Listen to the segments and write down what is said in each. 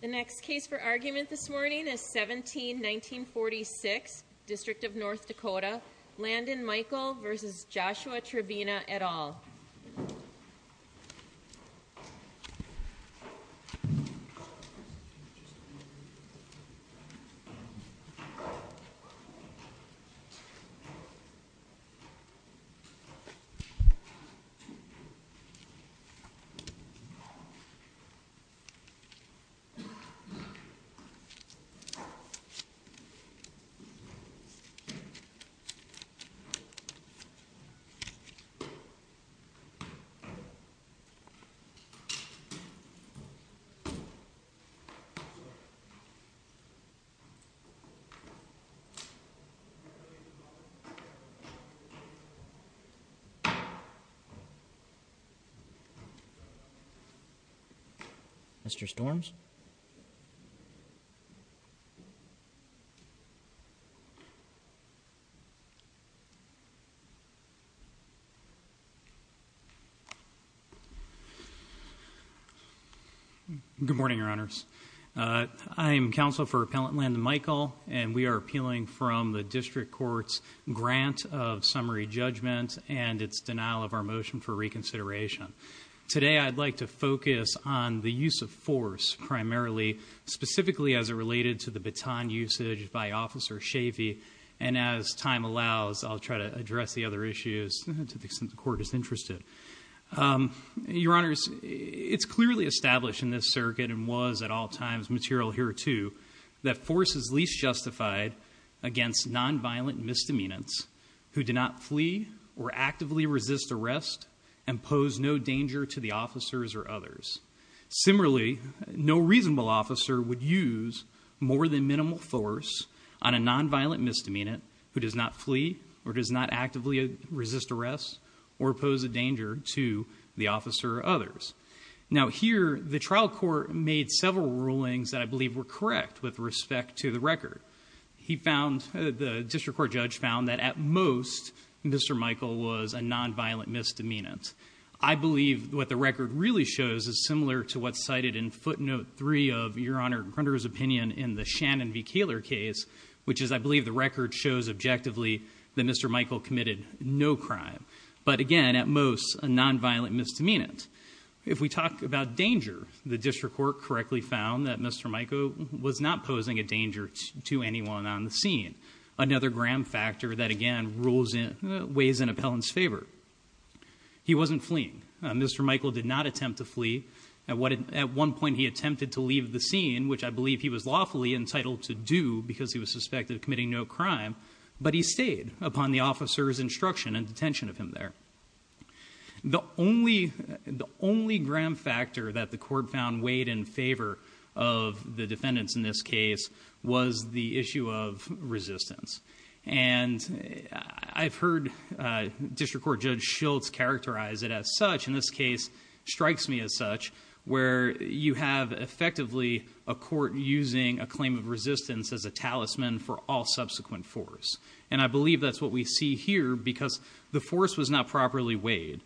The next case for argument this morning is 17-1946, District of North Dakota, Landon Michael v. Joshua Trevena et al. This case is 17-1946, District of North Dakota, Landon Michael v. Joshua Trevena et al. Mr. Storms? Good morning, Your Honors. I am counsel for Appellant Landon Michael, and we are appealing from the District Court's grant of summary judgment and its denial of our motion for reconsideration. Today, I'd like to focus on the use of force primarily, specifically as it related to the baton usage by Officer Chavey. And as time allows, I'll try to address the other issues to the extent the Court is interested. Your Honors, it's clearly established in this circuit, and was at all times material hereto, that force is least justified against nonviolent misdemeanants who do not flee or actively resist arrest and pose no danger to the officers or others. Similarly, no reasonable officer would use more than minimal force on a nonviolent misdemeanant who does not flee or does not actively resist arrest or pose a danger to the officer or others. Now here, the trial court made several rulings that I believe were correct with respect to the record. He found, the District Court judge found, that at most, Mr. Michael was a nonviolent misdemeanant. I believe what the record really shows is similar to what's cited in footnote three of Your Honor Grunder's opinion in the Shannon v. Koehler case, which is, I believe the record shows objectively that Mr. Michael committed no crime. But again, at most, a nonviolent misdemeanant. If we talk about danger, the District Court correctly found that Mr. Michael was not posing a danger to anyone on the scene. Another gram factor that, again, weighs in appellant's favor. He wasn't fleeing. Mr. Michael did not attempt to flee. At one point, he attempted to leave the scene, which I believe he was lawfully entitled to do because he was suspected of committing no crime. But he stayed upon the officer's instruction and detention of him there. The only gram factor that the court found weighed in favor of the defendants in this case was the issue of resistance. And I've heard District Court Judge Schultz characterize it as such. In this case, it strikes me as such, where you have effectively a court using a claim of resistance as a talisman for all subsequent force. And I believe that's what we see here because the force was not properly weighed.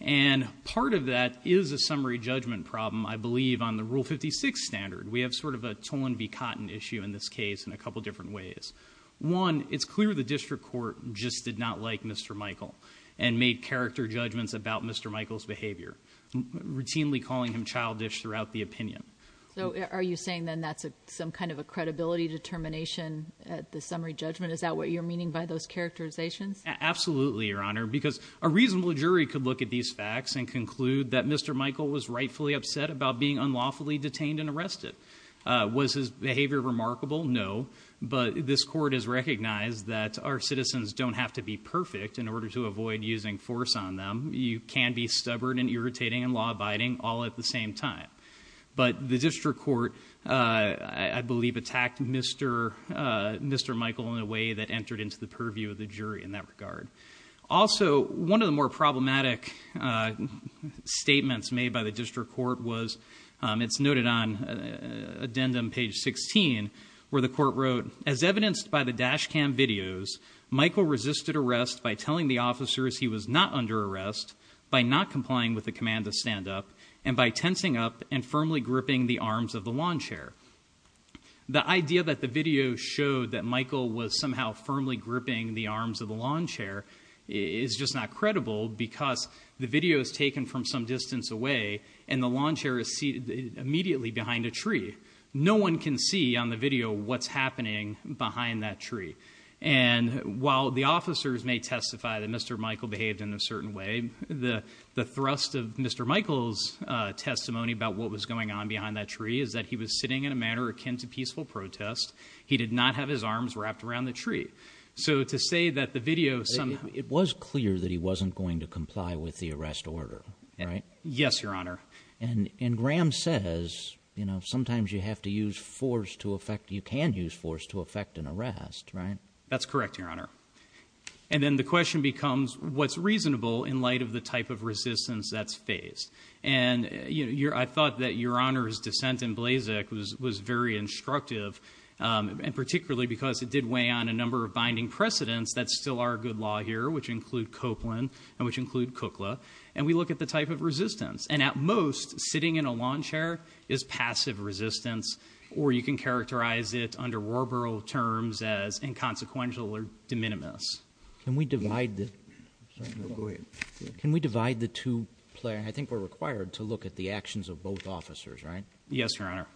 And part of that is a summary judgment problem, I believe, on the Rule 56 standard. We have sort of a Tolan v. Cotton issue in this case in a couple different ways. One, it's clear the District Court just did not like Mr. Michael and made character judgments about Mr. Michael's behavior, routinely calling him childish throughout the opinion. So are you saying then that's some kind of a credibility determination at the summary judgment? Is that what you're meaning by those characterizations? Absolutely, Your Honor, because a reasonable jury could look at these facts and conclude that Mr. Michael was rightfully upset about being unlawfully detained and arrested. Was his behavior remarkable? No, but this court has recognized that our citizens don't have to be perfect in order to avoid using force on them. You can be stubborn and irritating and law-abiding all at the same time. But the District Court, I believe, attacked Mr. Michael in a way that entered into the purview of the jury in that regard. Also, one of the more problematic statements made by the District Court was, it's noted on addendum page 16, where the court wrote, as evidenced by the dash cam videos, Michael resisted arrest by telling the officers he was not under arrest, by not complying with the command to stand up, and by tensing up and firmly gripping the arms of the lawn chair. The idea that the video showed that Michael was somehow firmly gripping the arms of the lawn chair is just not credible, because the video is taken from some distance away, and the lawn chair is seated immediately behind a tree. No one can see on the video what's happening behind that tree. And while the officers may testify that Mr. Michael behaved in a certain way, the thrust of Mr. Michael's testimony about what was going on behind that tree is that he was sitting in a manner akin to peaceful protest. He did not have his arms wrapped around the tree. So to say that the video somehow— It was clear that he wasn't going to comply with the arrest order, right? Yes, Your Honor. And Graham says, you know, sometimes you have to use force to effect—you can use force to effect an arrest, right? That's correct, Your Honor. And then the question becomes, what's reasonable in light of the type of resistance that's faced? And, you know, I thought that Your Honor's dissent in Blazek was very instructive, and particularly because it did weigh on a number of binding precedents that still are good law here, which include Copeland and which include Cookla, and we look at the type of resistance. And at most, sitting in a lawn chair is passive resistance, or you can characterize it under rural terms as inconsequential or de minimis. Can we divide the two—I think we're required to look at the actions of both officers, right? Yes, Your Honor.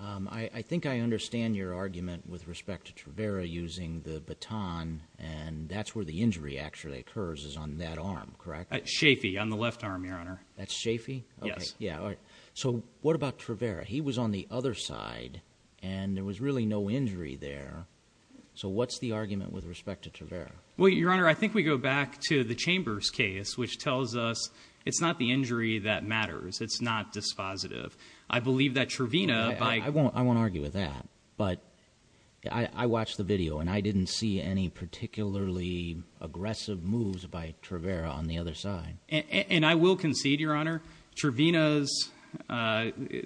I think I understand your argument with respect to Travera using the baton, and that's where the injury actually occurs, is on that arm, correct? At Chaffee, on the left arm, Your Honor. At Chaffee? Yes. Yeah, all right. So what about Travera? He was on the other side, and there was really no injury there. So what's the argument with respect to Travera? Well, Your Honor, I think we go back to the Chambers case, which tells us it's not the injury that matters. It's not dispositive. I believe that Travena— I won't argue with that, but I watched the video, and I didn't see any particularly aggressive moves by Travera on the other side. And I will concede, Your Honor, Travena's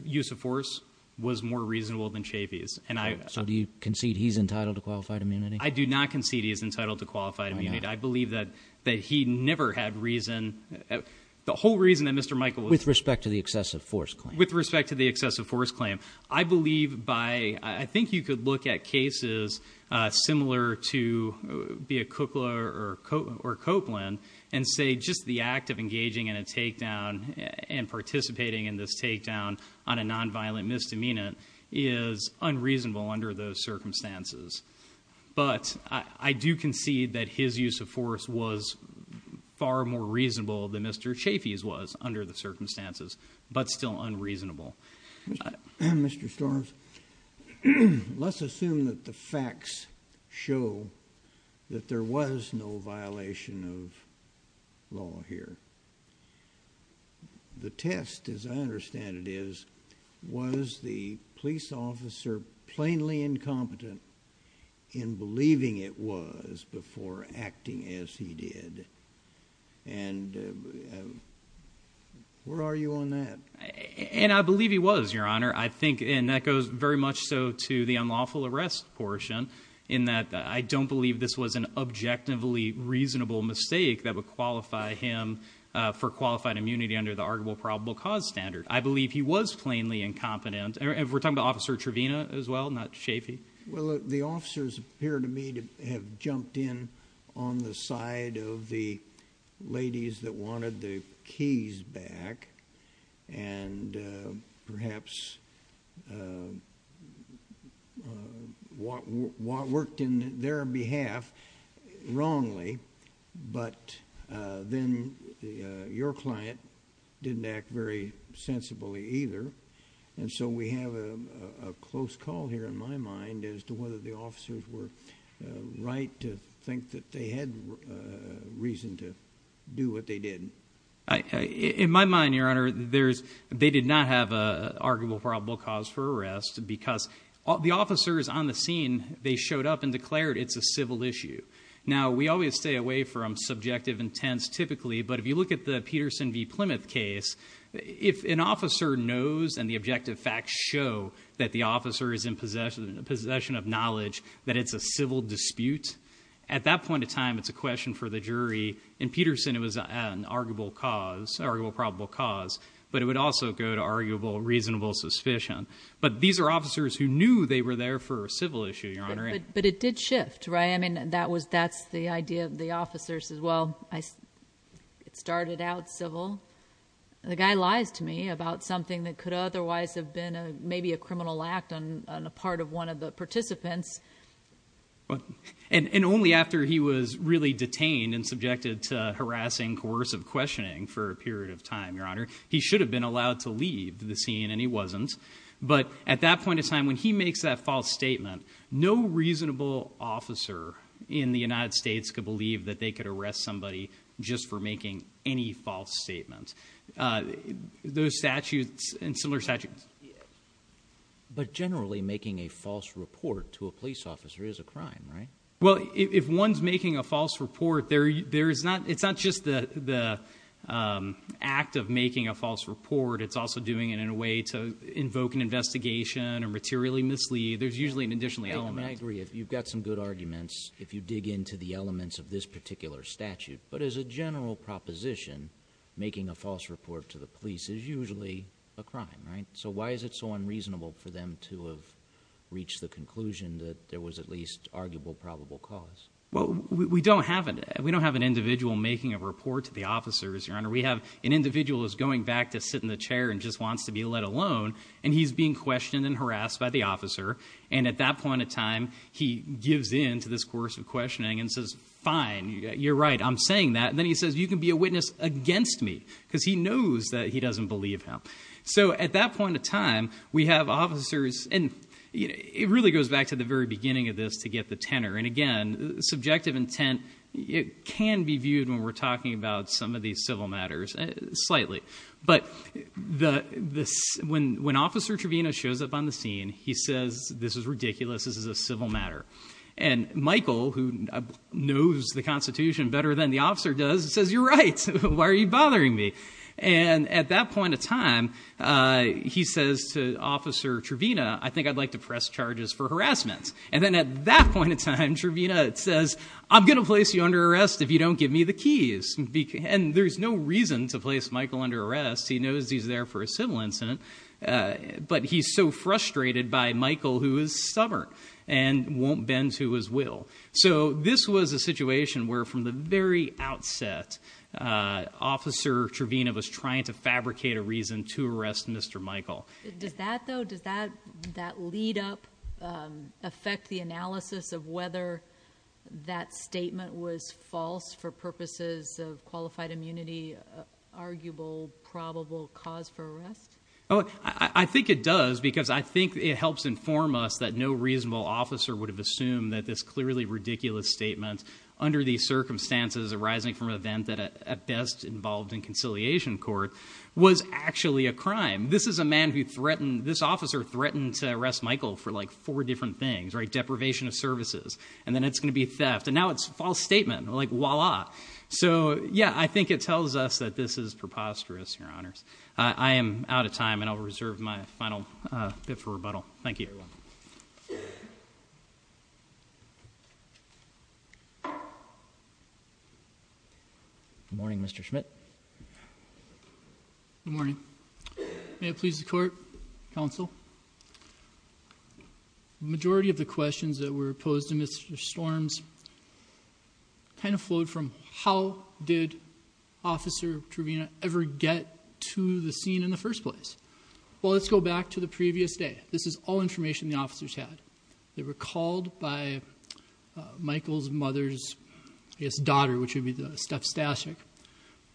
use of force was more reasonable than Chaffee's. So do you concede he's entitled to qualified immunity? I do not concede he's entitled to qualified immunity. I believe that he never had reason—the whole reason that Mr. Michael was— With respect to the excessive force claim. With respect to the excessive force claim. I believe by—I think you could look at cases similar to be it Cook or Copeland and say just the act of engaging in a takedown and participating in this takedown on a nonviolent misdemeanant is unreasonable under those circumstances. But I do concede that his use of force was far more reasonable than Mr. Chaffee's was under the circumstances, but still unreasonable. Mr. Storms, let's assume that the facts show that there was no violation of law here. The test, as I understand it, is was the police officer plainly incompetent in believing it was before acting as he did? And where are you on that? And I believe he was, Your Honor. I think—and that goes very much so to the unlawful arrest portion, in that I don't believe this was an objectively reasonable mistake that would qualify him for qualified immunity under the arguable probable cause standard. I believe he was plainly incompetent. And we're talking about Officer Trevina as well, not Chaffee. Well, the officers appear to me to have jumped in on the side of the ladies that wanted the keys back, and perhaps worked in their behalf wrongly, but then your client didn't act very sensibly either. And so we have a close call here, in my mind, as to whether the officers were right to think that they had reason to do what they did. In my mind, Your Honor, they did not have an arguable probable cause for arrest because the officers on the scene, they showed up and declared it's a civil issue. Now, we always stay away from subjective intents typically, but if you look at the Peterson v. Plymouth case, if an officer knows and the objective facts show that the officer is in possession of knowledge that it's a civil dispute, at that point in time, it's a question for the jury. In Peterson, it was an arguable probable cause, but it would also go to arguable reasonable suspicion. But these are officers who knew they were there for a civil issue, Your Honor. But it did shift, right? I mean, that's the idea of the officers as well. It started out civil. The guy lies to me about something that could otherwise have been maybe a criminal act on the part of one of the participants. And only after he was really detained and subjected to harassing, coercive questioning for a period of time, Your Honor, he should have been allowed to leave the scene, and he wasn't. But at that point in time, when he makes that false statement, no reasonable officer in the United States could believe that they could arrest somebody just for making any false statement. Those statutes and similar statutes. But generally, making a false report to a police officer is a crime, right? Well, if one's making a false report, it's not just the act of making a false report. It's also doing it in a way to invoke an investigation and materially mislead. There's usually an additional element. I agree. You've got some good arguments if you dig into the elements of this particular statute. But as a general proposition, making a false report to the police is usually a crime, right? So why is it so unreasonable for them to have reached the conclusion that there was at least arguable probable cause? Well, we don't have an individual making a report to the officers, Your Honor. We have an individual who's going back to sit in the chair and just wants to be let alone, and he's being questioned and harassed by the officer. And at that point in time, he gives in to this coercive questioning and says, fine, you're right, I'm saying that. And then he says, you can be a witness against me, because he knows that he doesn't believe him. So at that point in time, we have officers. And it really goes back to the very beginning of this to get the tenor. And again, subjective intent can be viewed when we're talking about some of these civil matters slightly. But when Officer Trevino shows up on the scene, he says, this is ridiculous, this is a civil matter. And Michael, who knows the Constitution better than the officer does, says, you're right, why are you bothering me? And at that point in time, he says to Officer Trevino, I think I'd like to press charges for harassment. And then at that point in time, Trevino says, I'm going to place you under arrest if you don't give me the keys. And there's no reason to place Michael under arrest. He knows he's there for a civil incident. But he's so frustrated by Michael, who is stubborn and won't bend to his will. So this was a situation where from the very outset, Officer Trevino was trying to fabricate a reason to arrest Mr. Michael. Does that, though, does that lead up affect the analysis of whether that statement was false for purposes of qualified immunity, arguable, probable cause for arrest? Oh, I think it does, because I think it helps inform us that no reasonable officer would have assumed that this clearly ridiculous statement under these circumstances arising from an event that at best involved in conciliation court was actually a crime. This is a man who threatened, this officer threatened to arrest Michael for like four different things, right? Deprivation of services. And then it's going to be theft. And now it's a false statement. Like, voila. So, yeah, I think it tells us that this is preposterous, Your Honors. I am out of time, and I'll reserve my final bit for rebuttal. Thank you. Good morning, Mr. Schmidt. Good morning. May it please the Court, Counsel. The majority of the questions that were posed to Mr. Storms kind of flowed from how did Officer Truvina ever get to the scene in the first place? Well, let's go back to the previous day. This is all information the officers had. They were called by Michael's mother's, I guess, daughter, which would be Steph Stasek,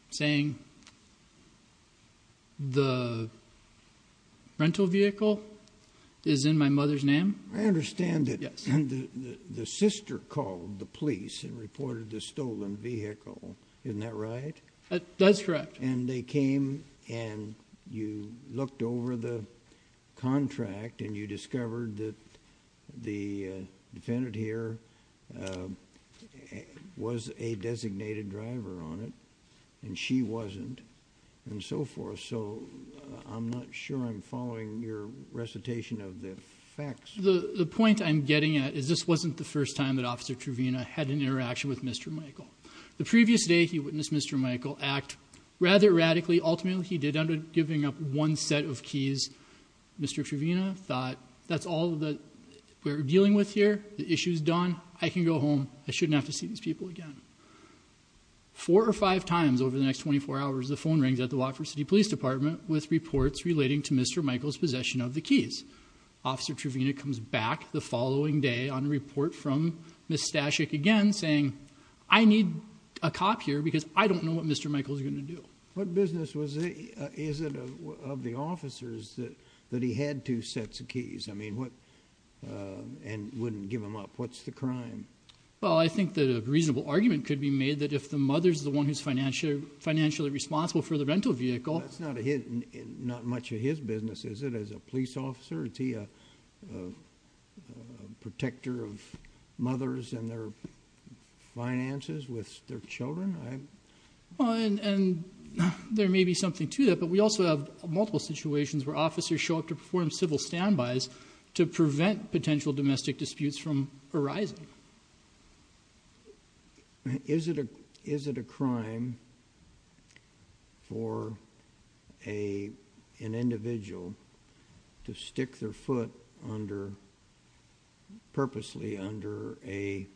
saying the rental vehicle is in my mother's name. I understand that. Yes. And they called the police and reported the stolen vehicle. Isn't that right? That's correct. And they came, and you looked over the contract, and you discovered that the defendant here was a designated driver on it, and she wasn't, and so forth. So I'm not sure I'm following your recitation of the facts. The point I'm getting at is this wasn't the first time that Officer Truvina had an interaction with Mr. Michael. The previous day, he witnessed Mr. Michael act rather radically. Ultimately, he did end up giving up one set of keys. Mr. Truvina thought, that's all that we're dealing with here. The issue's done. I can go home. I shouldn't have to see these people again. Four or five times over the next 24 hours, the phone rings at the Watford City Police Department with reports relating to Mr. Michael's possession of the keys. Officer Truvina comes back the following day on a report from Ms. Stashik again saying, I need a cop here because I don't know what Mr. Michael's going to do. What business is it of the officers that he had two sets of keys and wouldn't give them up? What's the crime? Well, I think that a reasonable argument could be made that if the mother's the one who's financially responsible for the rental vehicle Well, that's not much of his business, is it, as a police officer? Is he a protector of mothers and their finances with their children? And there may be something to that, but we also have multiple situations where officers show up to perform civil standbys to prevent potential domestic disputes from arising. Is it a crime for an individual to stick their foot purposely under a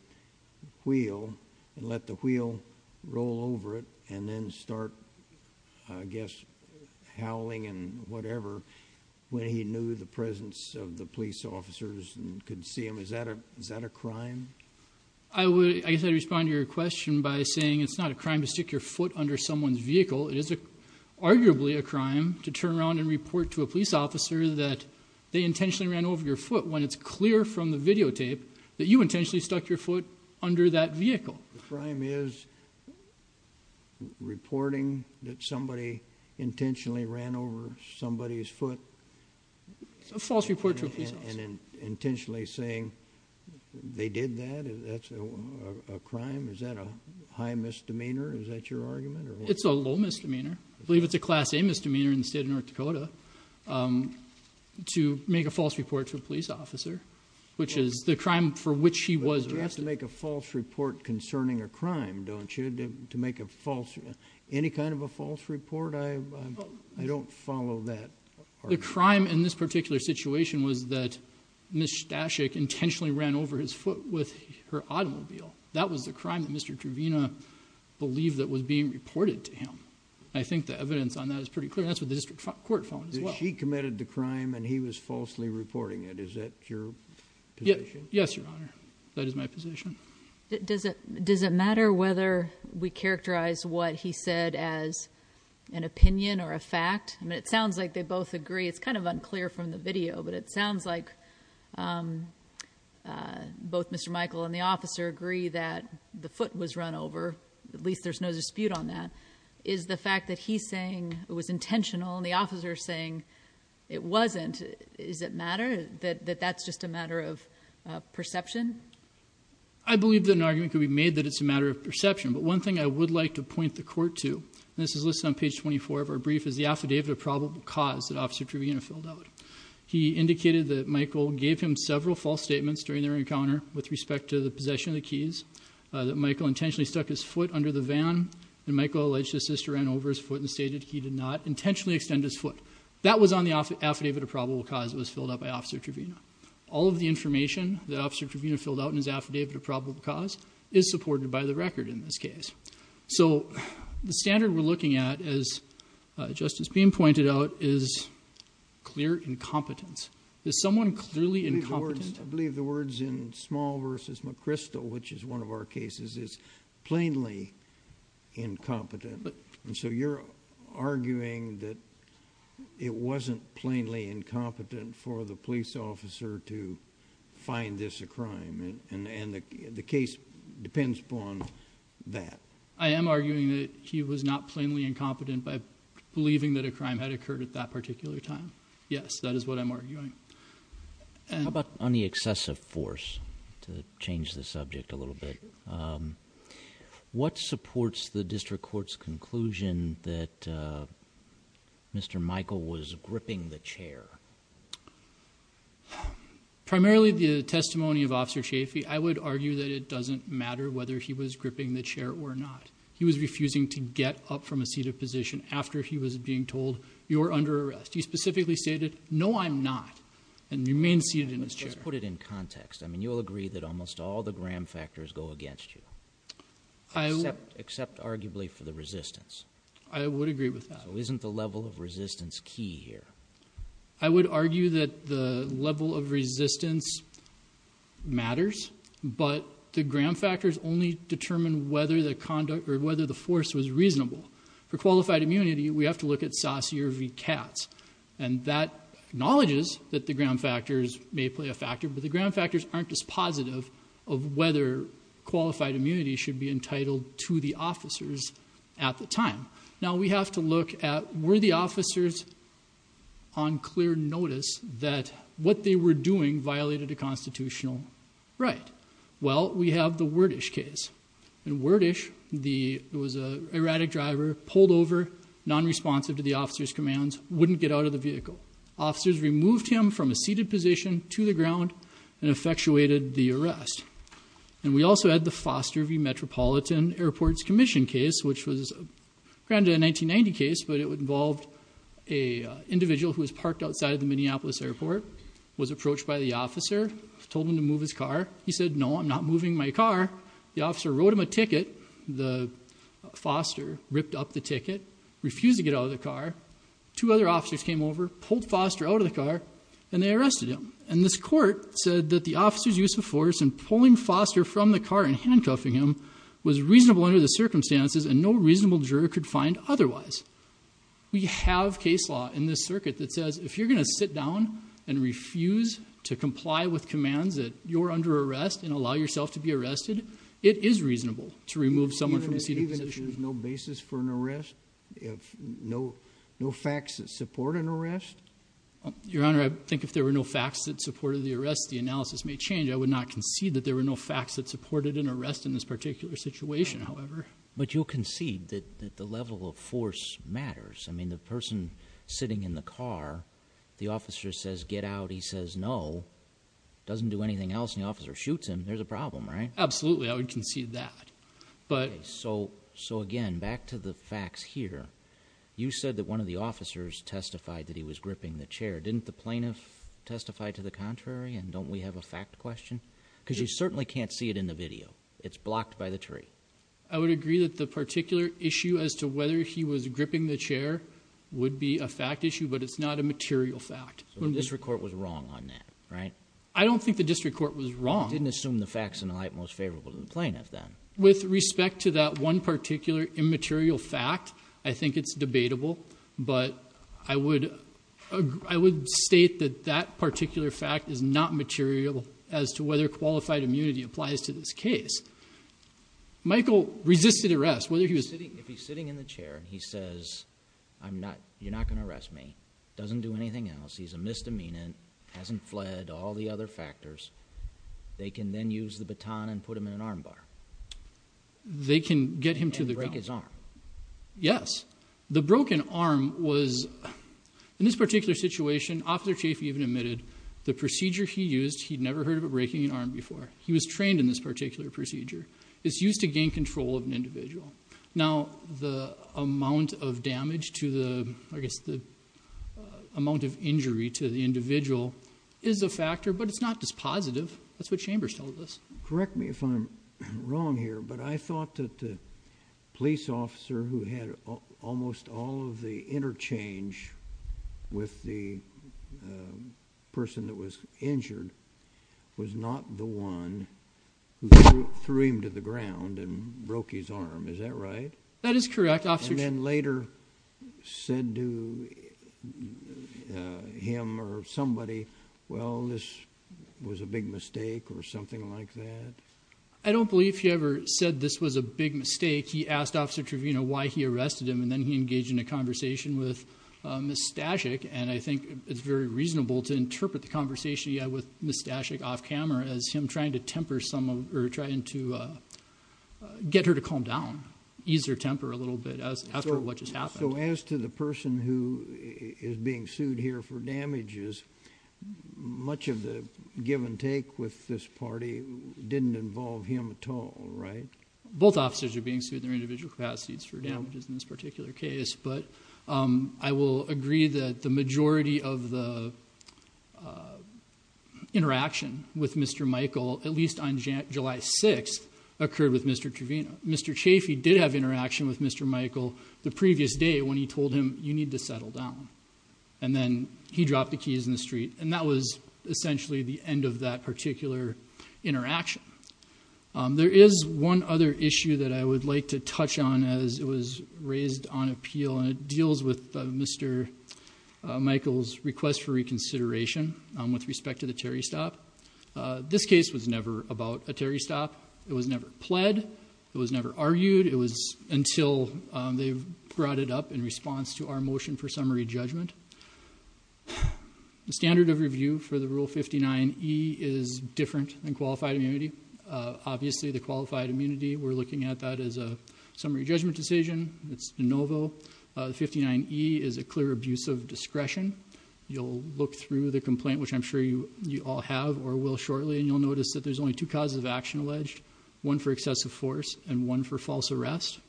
wheel and let the wheel roll over it and then start, I guess, howling and whatever when he knew the presence of the police officers and could see him? Is that a crime? I guess I'd respond to your question by saying it's not a crime to stick your foot under someone's vehicle. It is arguably a crime to turn around and report to a police officer that they intentionally ran over your foot when it's clear from the videotape that you intentionally stuck your foot under that vehicle. The crime is reporting that somebody intentionally ran over somebody's foot? A false report to a police officer. And intentionally saying they did that? Is that a crime? Is that a high misdemeanor? Is that your argument? It's a low misdemeanor. I believe it's a Class A misdemeanor in the state of North Dakota to make a false report to a police officer, which is the crime for which he was arrested. You have to make a false report concerning a crime, don't you, to make a false report? Any kind of a false report? I don't follow that argument. The crime in this particular situation was that Ms. Staszik intentionally ran over his foot with her automobile. That was the crime that Mr. Trevina believed that was being reported to him. I think the evidence on that is pretty clear. That's what the district court found as well. She committed the crime and he was falsely reporting it. Is that your position? Yes, Your Honor. That is my position. Does it matter whether we characterize what he said as an opinion or a fact? I mean, it sounds like they both agree. It's kind of unclear from the video, but it sounds like both Mr. Michael and the officer agree that the foot was run over. At least there's no dispute on that. Is the fact that he's saying it was intentional and the officer saying it wasn't, does it matter? That that's just a matter of perception? I believe that an argument could be made that it's a matter of perception. But one thing I would like to point the court to, and this is listed on page 24 of our brief, is the affidavit of probable cause that Officer Trevina filled out. He indicated that Michael gave him several false statements during their encounter with respect to the possession of the keys, that Michael intentionally stuck his foot under the van, and Michael alleged his sister ran over his foot and stated he did not intentionally extend his foot. That was on the affidavit of probable cause that was filled out by Officer Trevina. All of the information that Officer Trevina filled out in his affidavit of probable cause is supported by the record in this case. So the standard we're looking at, as Justice Beam pointed out, is clear incompetence. Is someone clearly incompetent? I believe the words in Small v. McChrystal, which is one of our cases, is plainly incompetent. So you're arguing that it wasn't plainly incompetent for the police officer to find this a crime, and the case depends upon that. I am arguing that he was not plainly incompetent by believing that a crime had occurred at that particular time. Yes, that is what I'm arguing. How about on the excessive force, to change the subject a little bit, what supports the district court's conclusion that Mr. Michael was gripping the chair? Primarily the testimony of Officer Chafee. I would argue that it doesn't matter whether he was gripping the chair or not. He was refusing to get up from a seated position after he was being told, you're under arrest. He specifically stated, no, I'm not, and remained seated in his chair. Let's put it in context. I mean, you'll agree that almost all the Graham factors go against you, except arguably for the resistance. I would agree with that. So isn't the level of resistance key here? I would argue that the level of resistance matters, but the Graham factors only determine whether the force was reasonable. For qualified immunity, we have to look at Saussure v. Katz, and that acknowledges that the Graham factors may play a factor, but the Graham factors aren't as positive of whether qualified immunity should be entitled to the officers at the time. Now, we have to look at, were the officers on clear notice that what they were doing violated a constitutional right? Well, we have the Werdish case. In Werdish, there was an erratic driver, pulled over, non-responsive to the officer's commands, wouldn't get out of the vehicle. Officers removed him from a seated position to the ground and effectuated the arrest. And we also had the Foster v. Metropolitan Airports Commission case, which was granted a 1990 case, but it involved an individual who was parked outside of the Minneapolis airport, was approached by the officer, told him to move his car. He said, no, I'm not moving my car. The officer wrote him a ticket. The Foster ripped up the ticket, refused to get out of the car. Two other officers came over, pulled Foster out of the car, and they arrested him. And this court said that the officer's use of force in pulling Foster from the car and handcuffing him was reasonable under the circumstances and no reasonable juror could find otherwise. We have case law in this circuit that says if you're going to sit down and refuse to comply with commands that you're under arrest and allow yourself to be arrested, it is reasonable to remove someone from a seated position. There's no basis for an arrest? No facts that support an arrest? Your Honor, I think if there were no facts that supported the arrest, the analysis may change. I would not concede that there were no facts that supported an arrest in this particular situation, however. But you'll concede that the level of force matters. I mean, the person sitting in the car, the officer says, get out. He says no, doesn't do anything else, and the officer shoots him. There's a problem, right? Absolutely, I would concede that. So again, back to the facts here. You said that one of the officers testified that he was gripping the chair. Didn't the plaintiff testify to the contrary, and don't we have a fact question? Because you certainly can't see it in the video. It's blocked by the tree. I would agree that the particular issue as to whether he was gripping the chair would be a fact issue, but it's not a material fact. So the district court was wrong on that, right? I don't think the district court was wrong. They didn't assume the facts in the light most favorable to the plaintiff then. With respect to that one particular immaterial fact, I think it's debatable. But I would state that that particular fact is not material as to whether qualified immunity applies to this case. Michael resisted arrest, whether he was sitting. If he's sitting in the chair and he says, you're not going to arrest me, doesn't do anything else, he's a misdemeanant, hasn't fled, all the other factors, they can then use the baton and put him in an arm bar. And break his arm. Yes. The broken arm was, in this particular situation, Officer Chaffee even admitted the procedure he used, he'd never heard of breaking an arm before. He was trained in this particular procedure. It's used to gain control of an individual. Now, the amount of damage to the, I guess the amount of injury to the individual is a factor, but it's not dispositive. That's what Chambers told us. Correct me if I'm wrong here, but I thought that the police officer who had almost all of the interchange with the person that was injured was not the one who threw him to the ground and broke his arm. Is that right? That is correct. And then later said to him or somebody, well, this was a big mistake or something like that? I don't believe he ever said this was a big mistake. He asked Officer Trevino why he arrested him, and then he engaged in a conversation with Ms. Stashik, and I think it's very reasonable to interpret the conversation he had with Ms. Stashik off camera as him trying to temper some or trying to get her to calm down, ease her temper a little bit after what just happened. So as to the person who is being sued here for damages, much of the give and take with this party didn't involve him at all, right? Both officers are being sued in their individual capacities for damages in this particular case, but I will agree that the majority of the interaction with Mr. Michael, at least on July 6th, occurred with Mr. Trevino. Mr. Chaffee did have interaction with Mr. Michael the previous day when he told him you need to settle down, and then he dropped the keys in the street, and that was essentially the end of that particular interaction. There is one other issue that I would like to touch on as it was raised on appeal, and it deals with Mr. Michael's request for reconsideration with respect to the Terry stop. This case was never about a Terry stop. It was never pled. It was never argued. It was until they brought it up in response to our motion for summary judgment. The standard of review for the Rule 59E is different than qualified immunity. Obviously, the qualified immunity, we're looking at that as a summary judgment decision. It's de novo. 59E is a clear abuse of discretion. You'll look through the complaint, which I'm sure you all have or will shortly, and you'll notice that there's only two causes of action alleged, one for excessive force and one for false arrest.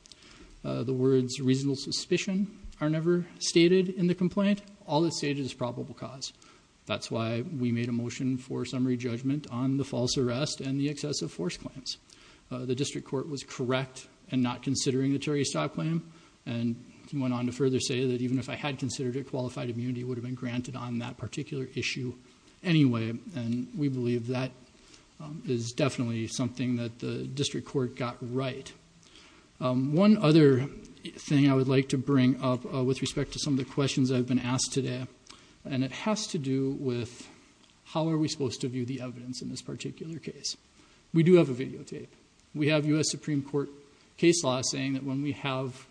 The words reasonable suspicion are never stated in the complaint. All that's stated is probable cause. That's why we made a motion for summary judgment on the false arrest and the excessive force claims. The district court was correct in not considering the Terry stop claim, and went on to further say that even if I had considered it, qualified immunity would have been granted on that particular issue anyway, and we believe that is definitely something that the district court got right. One other thing I would like to bring up with respect to some of the questions I've been asked today, and it has to do with how are we supposed to view the evidence in this particular case. We do have a videotape. We have U.S. Supreme Court case law saying that when we have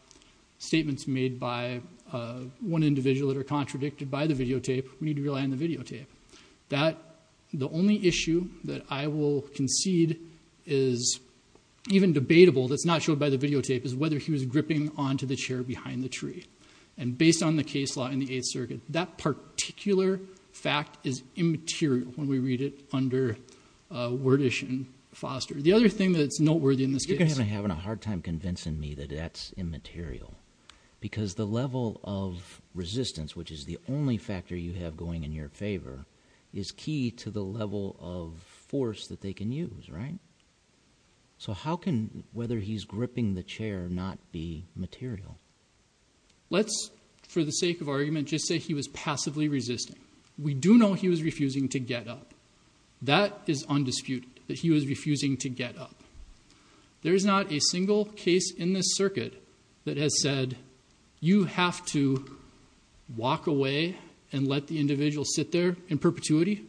statements made by one individual that are contradicted by the videotape, we need to rely on the videotape. The only issue that I will concede is even debatable that's not showed by the videotape is whether he was gripping onto the chair behind the tree, and based on the case law in the Eighth Circuit, that particular fact is immaterial when we read it under Wordish and Foster. The other thing that's noteworthy in this case— You're going to be having a hard time convincing me that that's immaterial because the level of resistance, which is the only factor you have going in your favor, is key to the level of force that they can use, right? So how can whether he's gripping the chair not be material? Let's, for the sake of argument, just say he was passively resisting. We do know he was refusing to get up. That is undisputed, that he was refusing to get up. There is not a single case in this circuit that has said, you have to walk away and let the individual sit there in perpetuity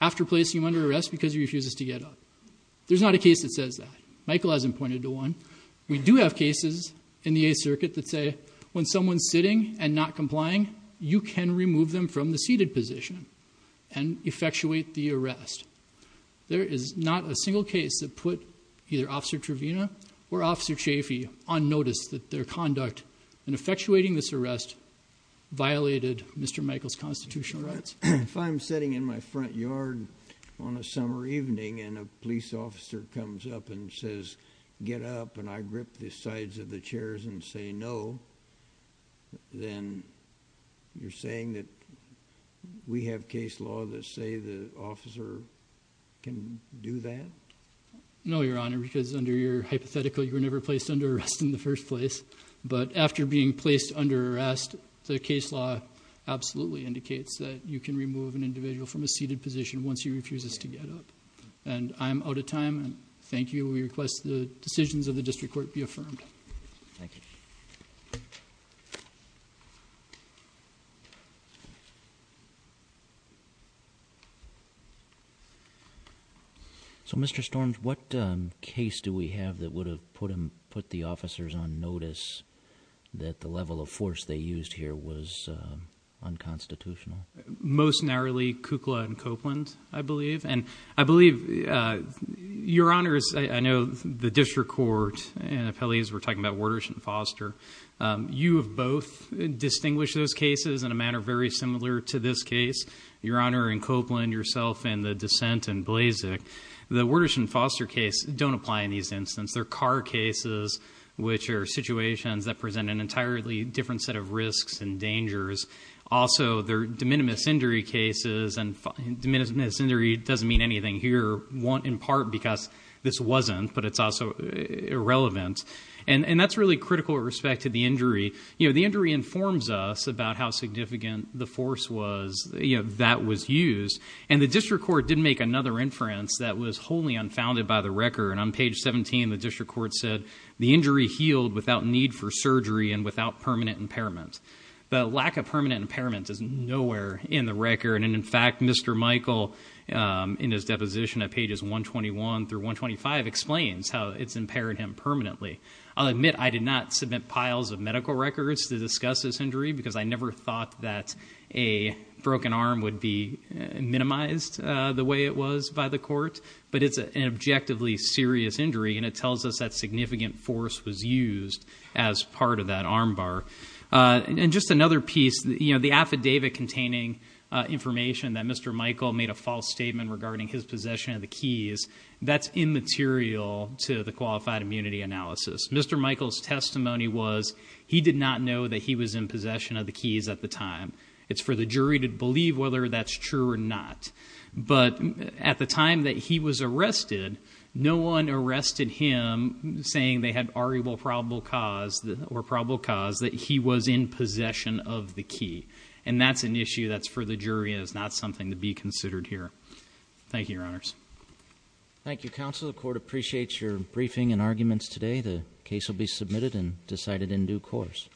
after placing him under arrest because he refuses to get up. There's not a case that says that. Michael hasn't pointed to one. We do have cases in the Eighth Circuit that say when someone's sitting and not complying, you can remove them from the seated position and effectuate the arrest. There is not a single case that put either Officer Trevena or Officer Chaffee on notice that their conduct in effectuating this arrest violated Mr. Michael's constitutional rights. If I'm sitting in my front yard on a summer evening and a police officer comes up and says, get up, and I grip the sides of the chairs and say no, then you're saying that we have case law that say the officer can do that? No, Your Honor, because under your hypothetical, you were never placed under arrest in the first place. But after being placed under arrest, the case law absolutely indicates that you can remove an individual from a seated position once he refuses to get up. I'm out of time. Thank you. We request the decisions of the District Court be affirmed. Thank you. So, Mr. Storms, what case do we have that would have put the officers on notice that the level of force they used here was unconstitutional? Most narrowly, Kukla and Copeland, I believe. And I believe, Your Honors, I know the District Court and the appellees were talking about Watershed and Foster. You have both distinguished those cases in a manner very similar to this case, Your Honor, and Copeland, yourself, and the dissent in Blazek. The Watershed and Foster case don't apply in these instances. They're car cases, which are situations that present an entirely different set of risks and dangers. Also, they're de minimis injury cases, and de minimis injury doesn't mean anything here, in part because this wasn't, but it's also irrelevant. And that's really critical with respect to the injury. The injury informs us about how significant the force was that was used. And the District Court did make another inference that was wholly unfounded by the record. On page 17, the District Court said, The injury healed without need for surgery and without permanent impairment. The lack of permanent impairment is nowhere in the record. And, in fact, Mr. Michael, in his deposition at pages 121 through 125, explains how it's impaired him permanently. I'll admit I did not submit piles of medical records to discuss this injury, because I never thought that a broken arm would be minimized the way it was by the court. But it's an objectively serious injury, and it tells us that significant force was used as part of that arm bar. And just another piece, the affidavit containing information that Mr. Michael made a false statement regarding his possession of the keys, that's immaterial to the qualified immunity analysis. Mr. Michael's testimony was, he did not know that he was in possession of the keys at the time. It's for the jury to believe whether that's true or not. But at the time that he was arrested, no one arrested him saying they had arguable probable cause, or probable cause, that he was in possession of the key. And that's an issue that's for the jury and is not something to be considered here. Thank you, Your Honors. Thank you, Counsel. The court appreciates your briefing and arguments today. The case will be submitted and decided in due course.